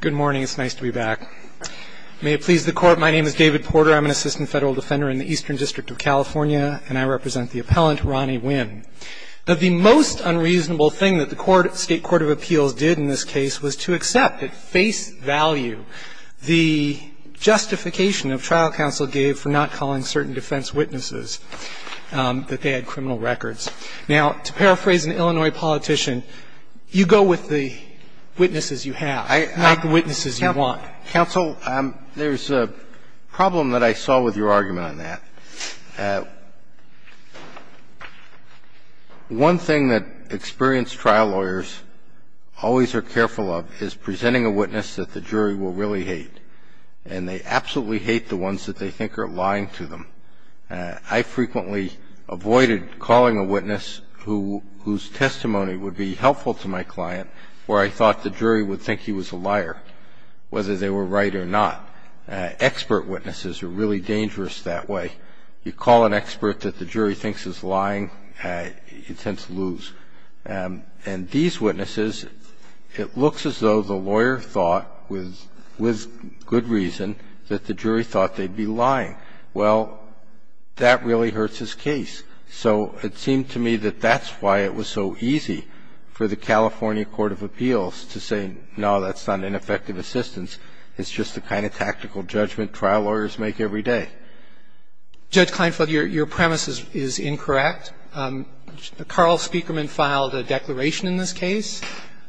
Good morning. It's nice to be back. May it please the court, my name is David Porter. I'm an assistant federal defender in the Eastern District of California, and I represent the appellant Ronnie Winn. The most unreasonable thing that the state court of appeals did in this case was to accept at face value the justification of trial counsel gave for not calling certain defense witnesses that they had criminal records. Now, to paraphrase an Illinois politician, you go with the witnesses you have, not the witnesses you want. Counsel, there's a problem that I saw with your argument on that. One thing that experienced trial lawyers always are careful of is presenting a witness that the jury will really hate, and they absolutely hate the ones that they think are lying to them. I frequently avoided calling a witness whose testimony would be helpful to my client where I thought the jury would think he was a liar, whether they were right or not. Expert witnesses are really dangerous that way. You call an expert that the jury thinks is lying, you tend to lose. And these witnesses, it looks as though the lawyer thought, with good reason, that the jury thought they'd be lying. Well, that really hurts his case. So it seemed to me that that's why it was so easy for the California court of appeals to say, no, that's not ineffective assistance, it's just the kind of tactical judgment trial lawyers make every day. Judge Kleinfeld, your premise is incorrect. Carl Speakerman filed a declaration in this case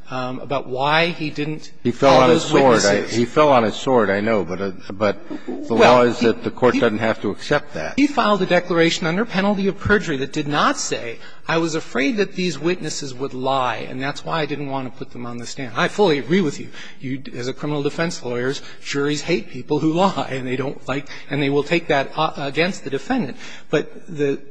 about why he didn't call those witnesses. He fell on his sword. I know, but the law is that the court doesn't have to accept that. He filed a declaration under penalty of perjury that did not say, I was afraid that these witnesses would lie, and that's why I didn't want to put them on the stand. I fully agree with you. As a criminal defense lawyer, juries hate people who lie, and they don't like to, and they will take that against the defendant. But the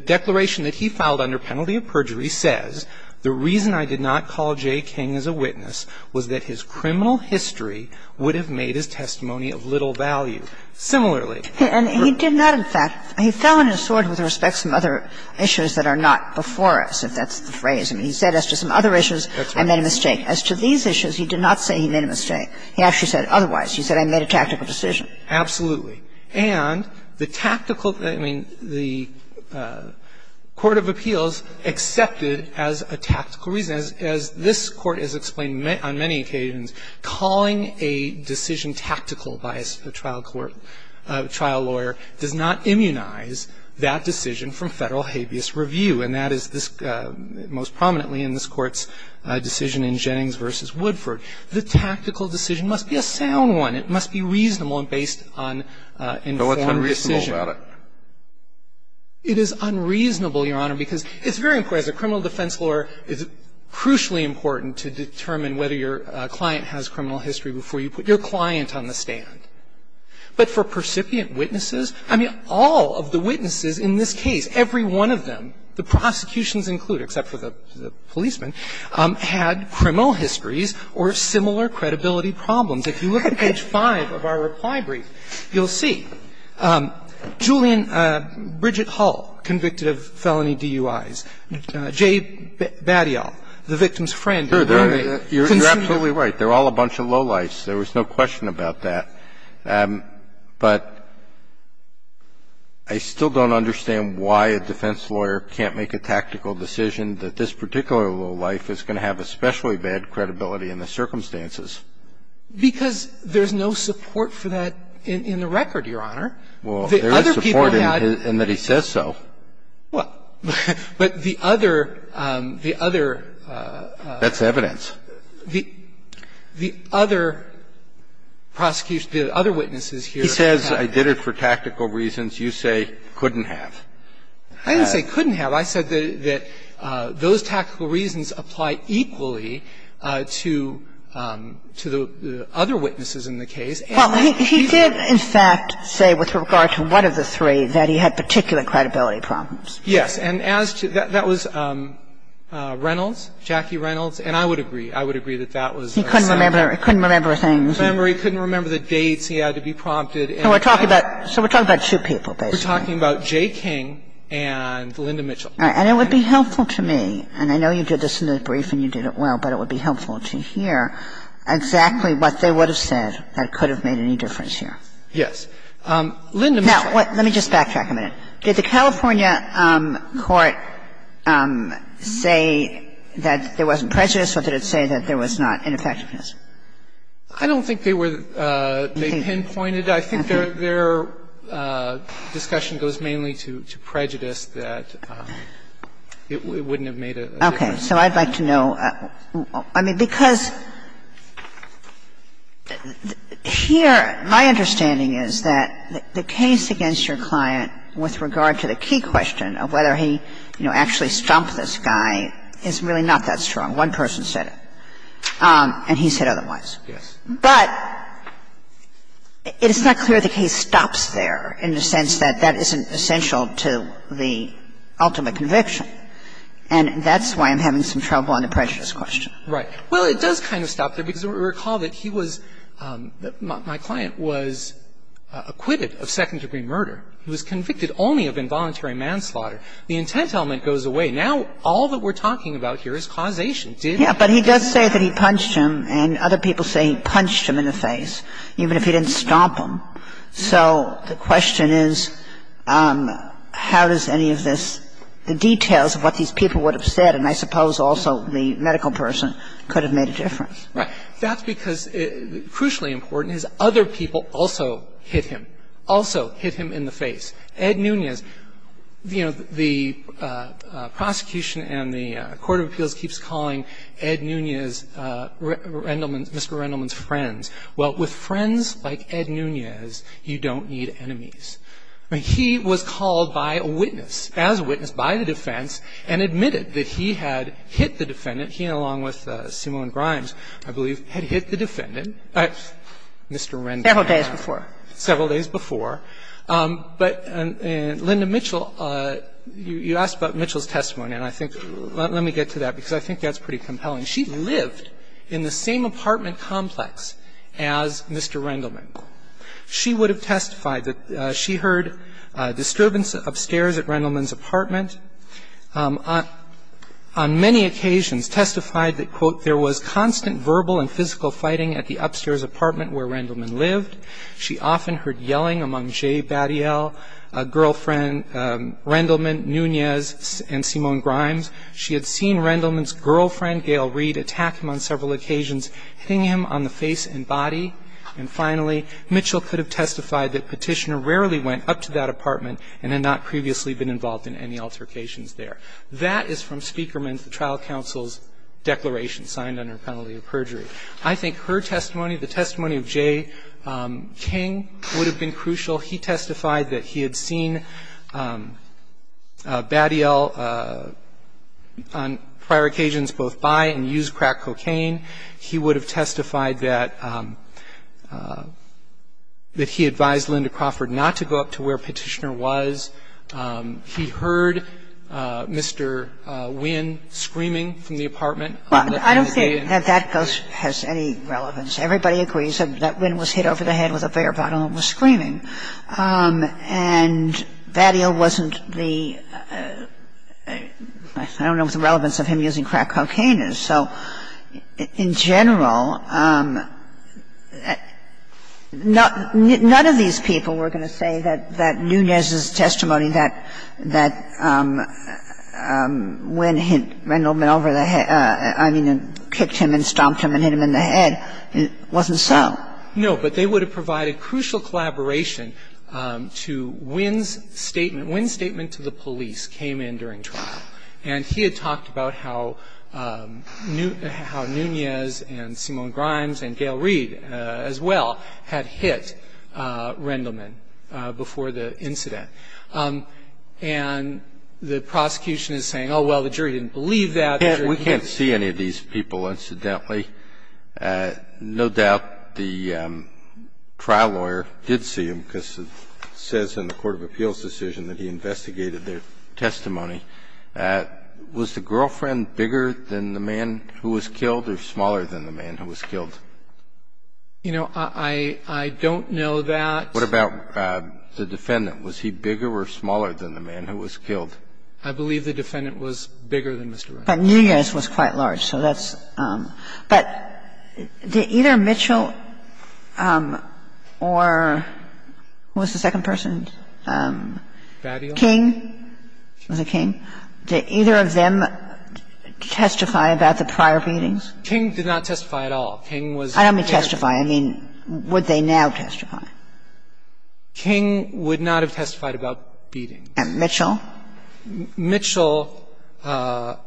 declaration that he filed under penalty of perjury says, the reason I did not call J. King as a witness was that his criminal history would have made his testimony of little value. Similarly he did not, in fact, he fell on his sword with respect to some other issues that are not before us, if that's the phrase. I mean, he said as to some other issues, I made a mistake. As to these issues, he did not say he made a mistake. He actually said otherwise. He said, I made a tactical decision. Absolutely. And the tactical, I mean, the court of appeals accepted as a tactical reason, and as this Court has explained on many occasions, calling a decision tactical by a trial court, trial lawyer, does not immunize that decision from Federal habeas review, and that is most prominently in this Court's decision in Jennings v. Woodford. The tactical decision must be a sound one. It must be reasonable and based on informed decision. It is unreasonable, Your Honor, because it's very important as a criminal defense lawyer, it's crucially important to determine whether your client has criminal history before you put your client on the stand. But for percipient witnesses, I mean, all of the witnesses in this case, every one of them, the prosecutions include, except for the policeman, had criminal histories or similar credibility problems. If you look at page 5 of our reply brief, you'll see Julian Bridgett Hall, convicted of felony DUIs, Jay Batyal, the victim's friend and roommate, consumer. You're absolutely right. They're all a bunch of lowlifes. There was no question about that. But I still don't understand why a defense lawyer can't make a tactical decision that this particular lowlife is going to have especially bad credibility in the circumstances. Because there's no support for that in the record, Your Honor. Well, there is support in that he says so. But the other the other. That's evidence. The other prosecution, the other witnesses here. He says I did it for tactical reasons. You say couldn't have. I didn't say couldn't have. I said that those tactical reasons apply equally to the other witnesses in the case. He did, in fact, say with regard to one of the three that he had particular credibility problems. Yes. And as to that, that was Reynolds, Jackie Reynolds. And I would agree. I would agree that that was a set-up. He couldn't remember things. He couldn't remember the dates. He had to be prompted. So we're talking about two people, basically. We're talking about Jay King and Linda Mitchell. And it would be helpful to me, and I know you did this in the brief and you did it well, but it would be helpful to hear exactly what they would have said that could have made any difference here. Yes. Linda Mitchell. Now, let me just backtrack a minute. Did the California court say that there wasn't prejudice, or did it say that there was not ineffectiveness? I don't think they were they pinpointed. I think their discussion goes mainly to prejudice, that it wouldn't have made a difference. Okay. So I'd like to know, I mean, because here, my understanding is that the case against your client, with regard to the key question of whether he, you know, actually stumped this guy, is really not that strong. One person said it, and he said otherwise. Yes. But it's not clear the case stops there in the sense that that isn't essential to the ultimate conviction. And that's why I'm having some trouble on the prejudice question. Right. Well, it does kind of stop there, because recall that he was my client was acquitted of second-degree murder. He was convicted only of involuntary manslaughter. The intent element goes away. Now, all that we're talking about here is causation. Did he? Yeah. But he does say that he punched him, and other people say he punched him in the face, even if he didn't stomp him. So the question is, how does any of this, the details of what these people would have said, and I suppose also the medical person, could have made a difference. Right. That's because, crucially important, his other people also hit him, also hit him in the face. Ed Nunez, you know, the prosecution and the court of appeals keeps calling Ed Nunez Mr. Rendleman's friends. Well, with friends like Ed Nunez, you don't need enemies. He was called by a witness, as a witness, by the defense, and admitted that he had hit the defendant. He, along with Simone Grimes, I believe, had hit the defendant, Mr. Rendleman. Several days before. Several days before. But Linda Mitchell, you asked about Mitchell's testimony, and I think, let me get to that, because I think that's pretty compelling. She lived in the same apartment complex as Mr. Rendleman. She would have testified that she heard disturbance upstairs at Rendleman's apartment. On many occasions testified that, quote, there was constant verbal and physical fighting at the upstairs apartment where Rendleman lived. She often heard yelling among Jay Batial, a girlfriend, Rendleman, Nunez, and Simone Grimes. She had seen Rendleman's girlfriend, Gail Reed, attack him on several occasions, hitting him on the face and body. And finally, Mitchell could have testified that Petitioner rarely went up to that location. That is from Speakerman's, the trial counsel's, declaration signed under penalty of perjury. I think her testimony, the testimony of Jay King, would have been crucial. He testified that he had seen Batial on prior occasions both buy and use crack cocaine. He would have testified that he advised Linda Crawford not to go up to where Petitioner was. He heard Mr. Wynn screaming from the apartment. I don't think that that has any relevance. Everybody agrees that Wynn was hit over the head with a beer bottle and was screaming. And Batial wasn't the – I don't know what the relevance of him using crack cocaine is. So in general, none of these people were going to say that Nunez's testimony that Wynn hit Rendleman over the head, I mean, kicked him and stomped him and hit him in the head, wasn't so. No. But they would have provided crucial collaboration to Wynn's statement. Wynn's statement to the police came in during trial. And he had talked about how Nunez and Simone Grimes and Gail Reed as well had hit Rendleman before the incident. And the prosecution is saying, oh, well, the jury didn't believe that. The jury can't see any of these people, incidentally. No doubt the trial lawyer did see him because it says in the court of appeals decision that he investigated their testimony. Was the girlfriend bigger than the man who was killed or smaller than the man who was killed? You know, I don't know that. What about the defendant? Was he bigger or smaller than the man who was killed? I believe the defendant was bigger than Mr. Rendleman. But Nunez was quite large, so that's – but did either Mitchell or – who was the second person? King. Was it King? Did either of them testify about the prior beatings? King did not testify at all. King was the parent. I don't mean testify. I mean, would they now testify? King would not have testified about beatings. And Mitchell? Mitchell would have.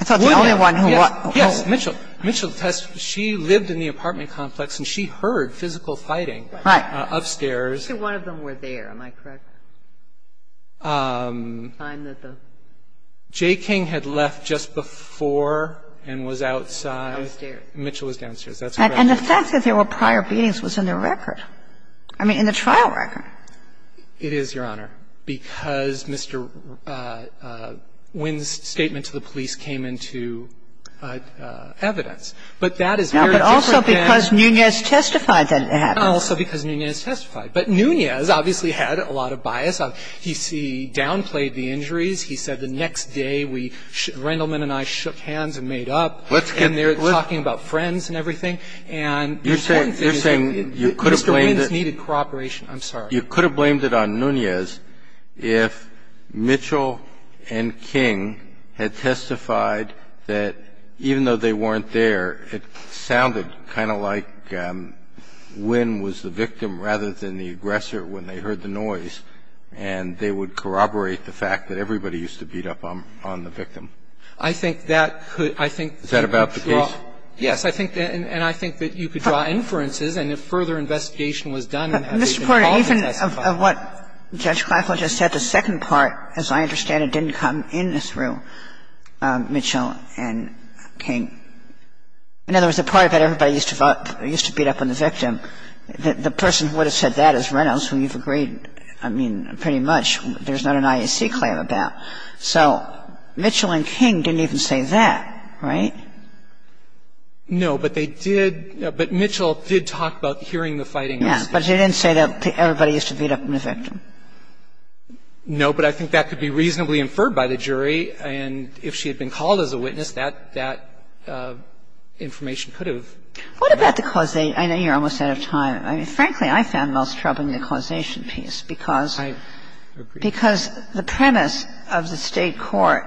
I thought the only one who was – Yes. Yes. Mitchell. Mitchell testified. She lived in the apartment complex and she heard physical fighting upstairs. Right. I think one of them were there. Am I correct? The time that the – J. King had left just before and was outside. Downstairs. Mitchell was downstairs. That's correct. And the fact that there were prior beatings was in the record. I mean, in the trial record. It is, Your Honor, because Mr. Wynn's statement to the police came into evidence. But that is very different than – But also because Nunez testified that it happened. Also because Nunez testified. But Nunez obviously had a lot of bias. He downplayed the injuries. He said the next day we – Rendleman and I shook hands and made up. And they're talking about friends and everything. And the point is that Mr. Wynn's needed corroboration. I'm sorry. You could have blamed it on Nunez if Mitchell and King had testified that even though they weren't there, it sounded kind of like Wynn was the victim rather than the aggressor when they heard the noise, and they would corroborate the fact that everybody used to beat up on the victim. I think that could – I think that would draw – Is that about the case? Yes. I think that – and I think that you could draw inferences, and if further investigation was done and had they been called to testify – But, Mr. Porter, even of what Judge Kleinfeld just said, the second part, as I understand it, didn't come in through Mitchell and King. In other words, the part about everybody used to vote – used to beat up on the victim, the person who would have said that is Reynolds, who you've agreed, I mean, pretty much there's not an IAC claim about. So Mitchell and King didn't even say that, right? No, but they did – but Mitchell did talk about hearing the fighting. Yes, but she didn't say that everybody used to beat up on the victim. No, but I think that could be reasonably inferred by the jury, and if she had been called as a witness, that information could have come out. What about the causation? I know you're almost out of time. I mean, frankly, I found Mills troubling, the causation piece, because the premise of the State court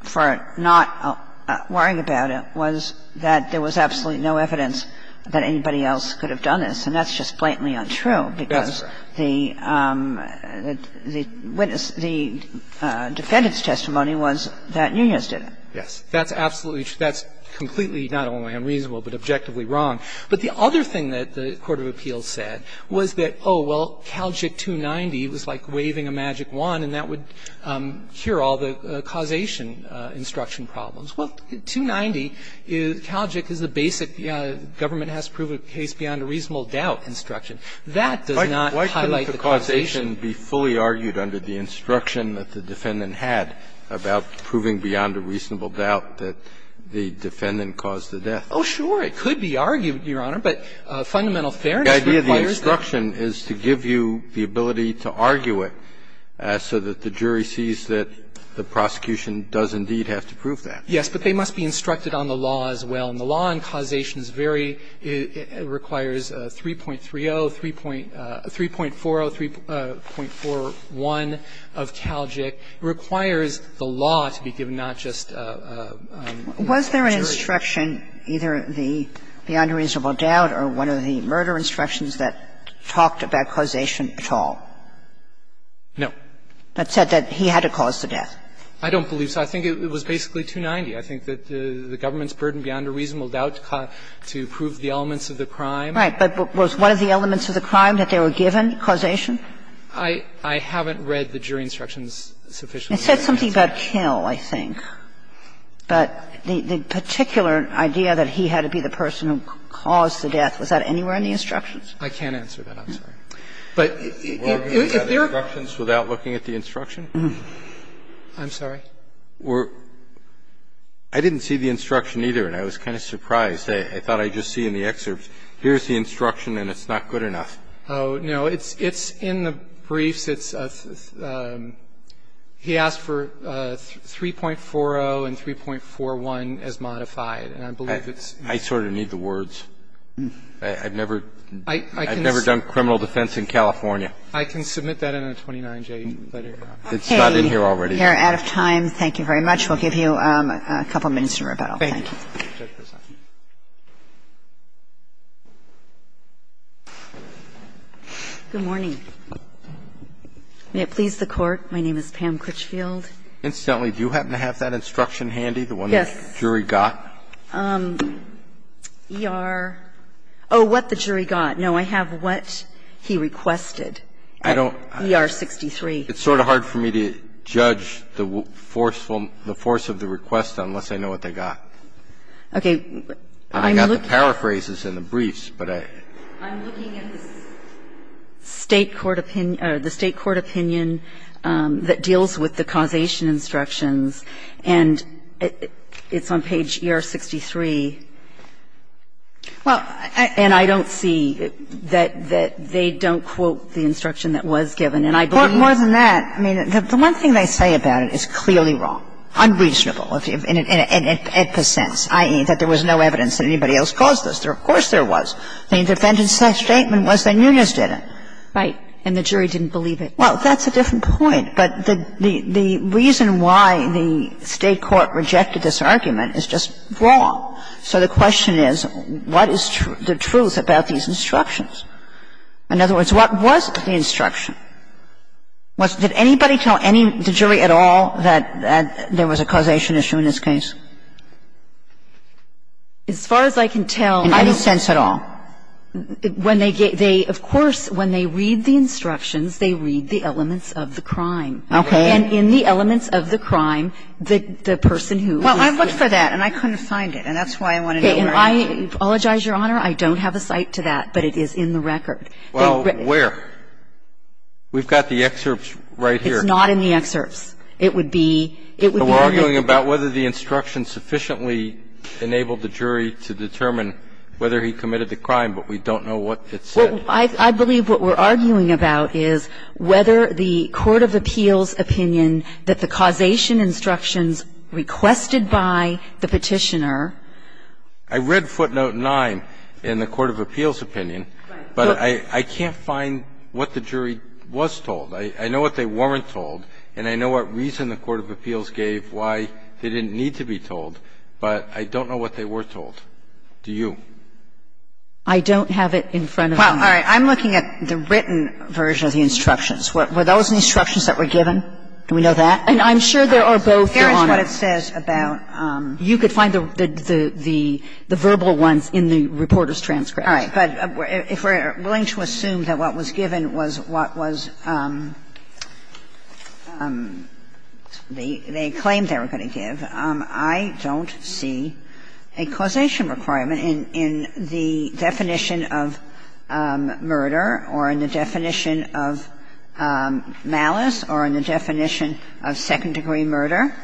for not worrying about it was that there was absolutely no evidence that anybody else could have done this, and that's just blatantly untrue, because the witness – the defendant's testimony was that Nunez didn't. Yes. That's absolutely – that's completely not only unreasonable, but objectively wrong. But the other thing that the court of appeals said was that, oh, well, Calgic 290 was like waving a magic wand, and that would cure all the causation instruction problems. Well, 290, Calgic is the basic government has to prove a case beyond a reasonable doubt instruction. That does not highlight the causation. Why couldn't the causation be fully argued under the instruction that the defendant had about proving beyond a reasonable doubt that the defendant caused the death? Oh, sure. It could be argued, Your Honor, but fundamental fairness requires that. The idea of the instruction is to give you the ability to argue it so that the jury sees that the prosecution does indeed have to prove that. Yes, but they must be instructed on the law as well. And the law on causation is very – requires 3.30, 3.40, 3.41 of Calgic. It requires the law to be given, not just the jury. Was there an instruction, either the beyond a reasonable doubt or one of the murder instructions that talked about causation at all? No. That said that he had to cause the death. I don't believe so. I think it was basically 290. I think that the government's burden beyond a reasonable doubt to prove the elements of the crime. Right. But was one of the elements of the crime that they were given, causation? I haven't read the jury instructions sufficiently. It said something about kill, I think. But the particular idea that he had to be the person who caused the death, was that anywhere in the instructions? I can't answer that. I'm sorry. But if there are – Were there instructions without looking at the instruction? I'm sorry? I didn't see the instruction either, and I was kind of surprised. I thought I'd just see in the excerpt, here's the instruction and it's not good enough. Oh, no. It's in the briefs. It's a – he asked for 3.40 and 3.41 as modified, and I believe it's in the briefs. I sort of need the words. I've never done criminal defense in California. I can submit that in a 29-J letter. It's not in here already. We're out of time. Thank you very much. We'll give you a couple minutes in rebuttal. Thank you. Good morning. May it please the Court, my name is Pam Critchfield. Incidentally, do you happen to have that instruction handy, the one the jury got? Yes. ER – oh, what the jury got. No, I have what he requested, ER 63. It's sort of hard for me to judge the force of the request unless I know what they got. Okay. I'm looking at the State court opinion that deals with the causation instructions and it's on page ER 63. Well, I – And I don't see that they don't quote the instruction that was given. And I believe – Well, more than that, I mean, the one thing they say about it is clearly wrong. Unreasonable in the sense, i.e., that there was no evidence that anybody else caused this. Of course there was. The indefendant's statement was that Nunez didn't. Right. And the jury didn't believe it. Well, that's a different point. But the reason why the State court rejected this argument is just wrong. So the question is, what is the truth about these instructions? In other words, what was the instruction? Did anybody tell any – the jury at all that there was a causation issue in this case? As far as I can tell, I don't – In any sense at all? When they get – they – of course, when they read the instructions, they read the elements of the crime. Okay. And in the elements of the crime, the person who – Well, I looked for that and I couldn't find it and that's why I want to know where it is. And I apologize, Your Honor, I don't have a cite to that, but it is in the record. Well, where? We've got the excerpts right here. It's not in the excerpts. It would be – it would be in the – We're arguing about whether the instructions sufficiently enabled the jury to determine whether he committed the crime, but we don't know what it said. I believe what we're arguing about is whether the court of appeals opinion that the causation instructions requested by the Petitioner – I read footnote 9 in the court of appeals opinion. Right. But I can't find what the jury was told. I know what they weren't told and I know what reason the court of appeals gave why they didn't need to be told, but I don't know what they were told. Do you? I don't have it in front of me. Well, all right. I'm looking at the written version of the instructions. Were those instructions that were given? Do we know that? And I'm sure there are both, Your Honor. Here is what it says about – You could find the verbal ones in the reporter's transcript. All right. But if we're willing to assume that what was given was what was the claim they were going to give, I don't see a causation requirement in the definition of murder or in the definition of malice or in the definition of second-degree murder.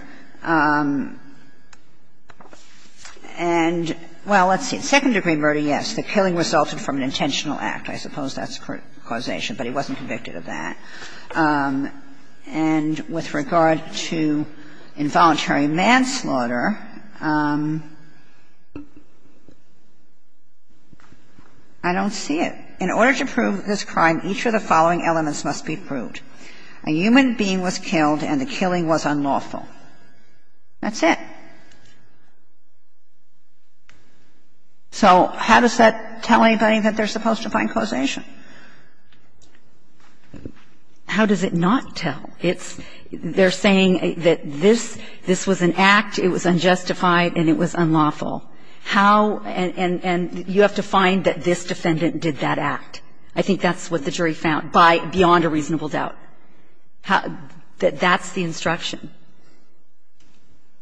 And, well, let's see, second-degree murder, yes. The killing resulted from an intentional act. I suppose that's causation, but he wasn't convicted of that. And with regard to involuntary manslaughter, I don't see it. In order to prove this crime, each of the following elements must be proved. A human being was killed and the killing was unlawful. That's it. So how does that tell anybody that they're supposed to find causation? How does it not tell? It's – they're saying that this was an act, it was unjustified, and it was unlawful. How – and you have to find that this defendant did that act. I think that's what the jury found, beyond a reasonable doubt. That's the instruction.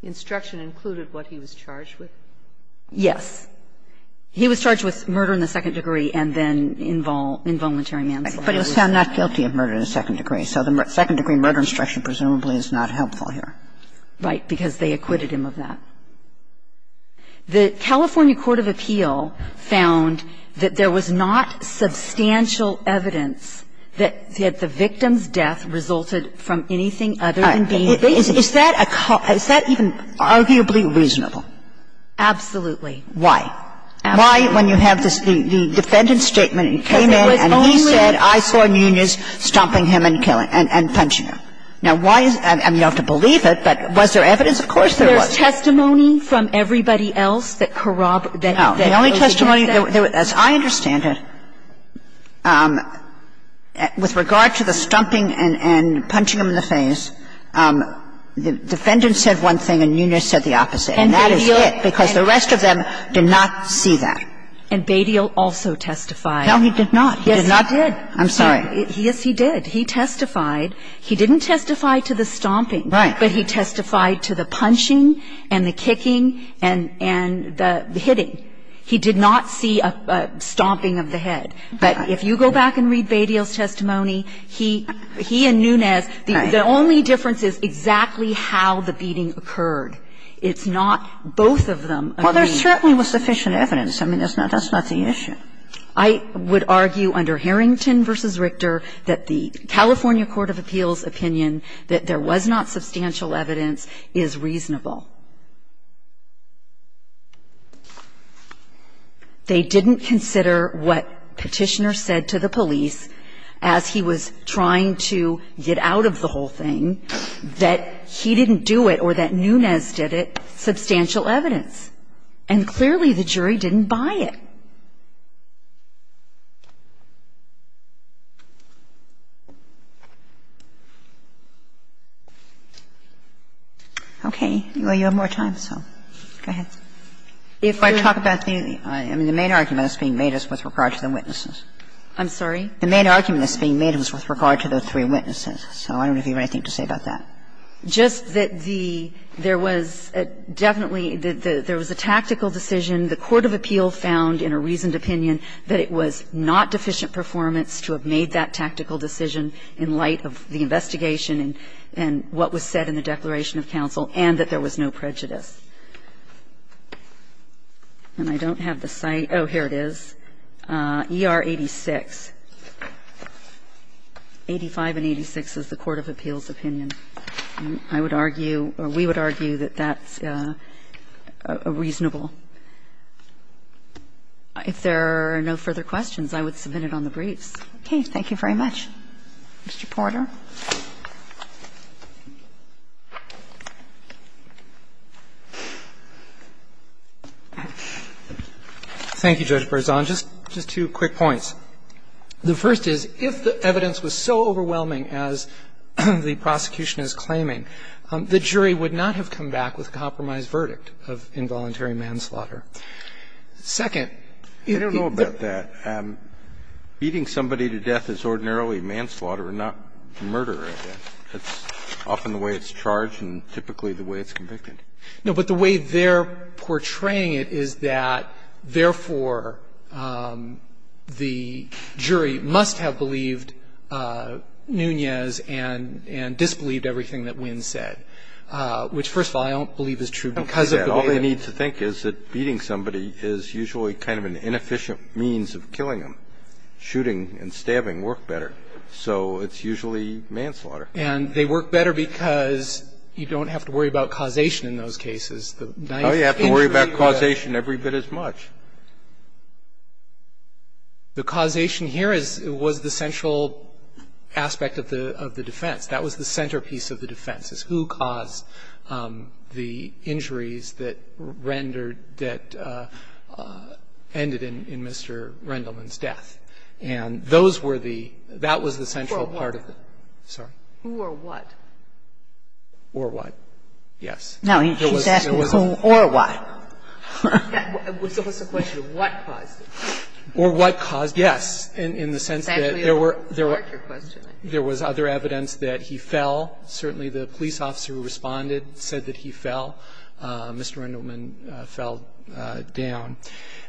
Instruction included what he was charged with? Yes. He was charged with murder in the second degree and then involuntary manslaughter. But he was found not guilty of murder in the second degree. So the second-degree murder instruction presumably is not helpful here. Right. Because they acquitted him of that. The California court of appeal found that there was not substantial evidence that the victim's death resulted from anything other than being – Is that a – is that even arguably reasonable? Absolutely. Why? Why, when you have this – the defendant's statement, he came in and he said, I saw Nunez stomping him and killing – and punching him. Now, why is – I mean, you don't have to believe it, but was there evidence? Of course there was. There's testimony from everybody else that corroborated that. The only testimony – as I understand it, with regard to the stomping and punching him in the face, the defendant said one thing and Nunez said the opposite. And that is it. Because the rest of them did not see that. And Badial also testified. No, he did not. He did not. Yes, he did. I'm sorry. Yes, he did. He testified. He didn't testify to the stomping. Right. But he testified to the punching and the kicking and the hitting. He did not see a stomping of the head. But if you go back and read Badial's testimony, he and Nunez, the only difference is exactly how the beating occurred. It's not both of them. Well, there certainly was sufficient evidence. I mean, that's not the issue. I would argue under Harrington v. Richter that the California court of appeals opinion that there was not substantial evidence is reasonable. They didn't consider what Petitioner said to the police as he was trying to get out of the whole thing, that he didn't do it or that Nunez did it, substantial evidence. And clearly, the jury didn't buy it. Okay. Well, you have more time, so go ahead. If you're talking about the main argument that's being made is with regard to the witnesses. I'm sorry? The main argument that's being made is with regard to the three witnesses. So I don't have anything to say about that. Just that the – there was definitely – there was a tactical decision. The court of appeal found in a reasoned opinion that it was not deficient performance to have made that tactical decision in light of the investigation and what was said in the Declaration of Counsel, and that there was no prejudice. And I don't have the site – oh, here it is, ER 86, 85 and 86. I don't have the site of ER 86 as the court of appeal's opinion. I would argue, or we would argue, that that's a reasonable – if there are no further questions, I would submit it on the briefs. Okay. Thank you very much. Mr. Porter. Thank you, Judge Berzon. Just two quick points. The first is, if the evidence was so overwhelming as the prosecution is claiming, the jury would not have come back with a compromised verdict of involuntary manslaughter. Second, if the – I don't know about that. Beating somebody to death is ordinarily manslaughter and not murder, I guess. That's often the way it's charged and typically the way it's convicted. No, but the way they're portraying it is that, therefore, the jury must have believed Nunez and disbelieved everything that Winn said, which, first of all, I don't believe is true because of the way it – All they need to think is that beating somebody is usually kind of an inefficient means of killing them. Shooting and stabbing work better, so it's usually manslaughter. And they work better because you don't have to worry about causation in those cases. The ninth injury was – No, you have to worry about causation every bit as much. The causation here is – was the central aspect of the defense. That was the centerpiece of the defense, is who caused the injuries that rendered – that ended in Mr. Rendleman's death. And those were the – that was the central part of the – Sorry? Who or what? Or what, yes. No, he's asking who or what. It was a question of what caused it. Or what caused it, yes, in the sense that there were – Exactly what sparked your question, I think. There was other evidence that he fell. Certainly the police officer who responded said that he fell. Mr. Rendleman fell down.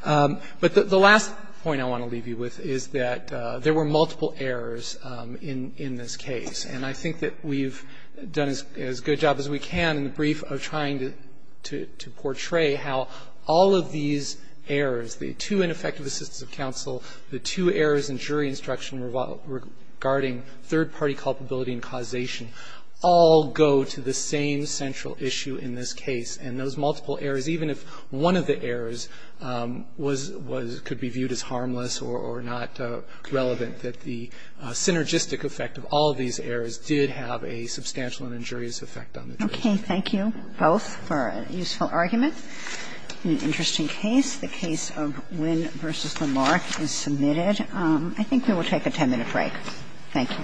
But the last point I want to leave you with is that there were multiple errors in this case, and I think that we've done as good a job as we can in the brief of trying to portray how all of these errors, the two ineffective assistances of counsel, the two errors in jury instruction regarding third-party culpability and causation, all go to the same central issue in this case. And those multiple errors, even if one of the errors was – could be viewed as a case of win versus the mark, all of these errors did have a substantial and injurious effect on the jury. Okay. Thank you both for a useful argument in an interesting case. The case of win versus the mark is submitted. I think we will take a 10-minute break. Thank you. Thank you. Thank you.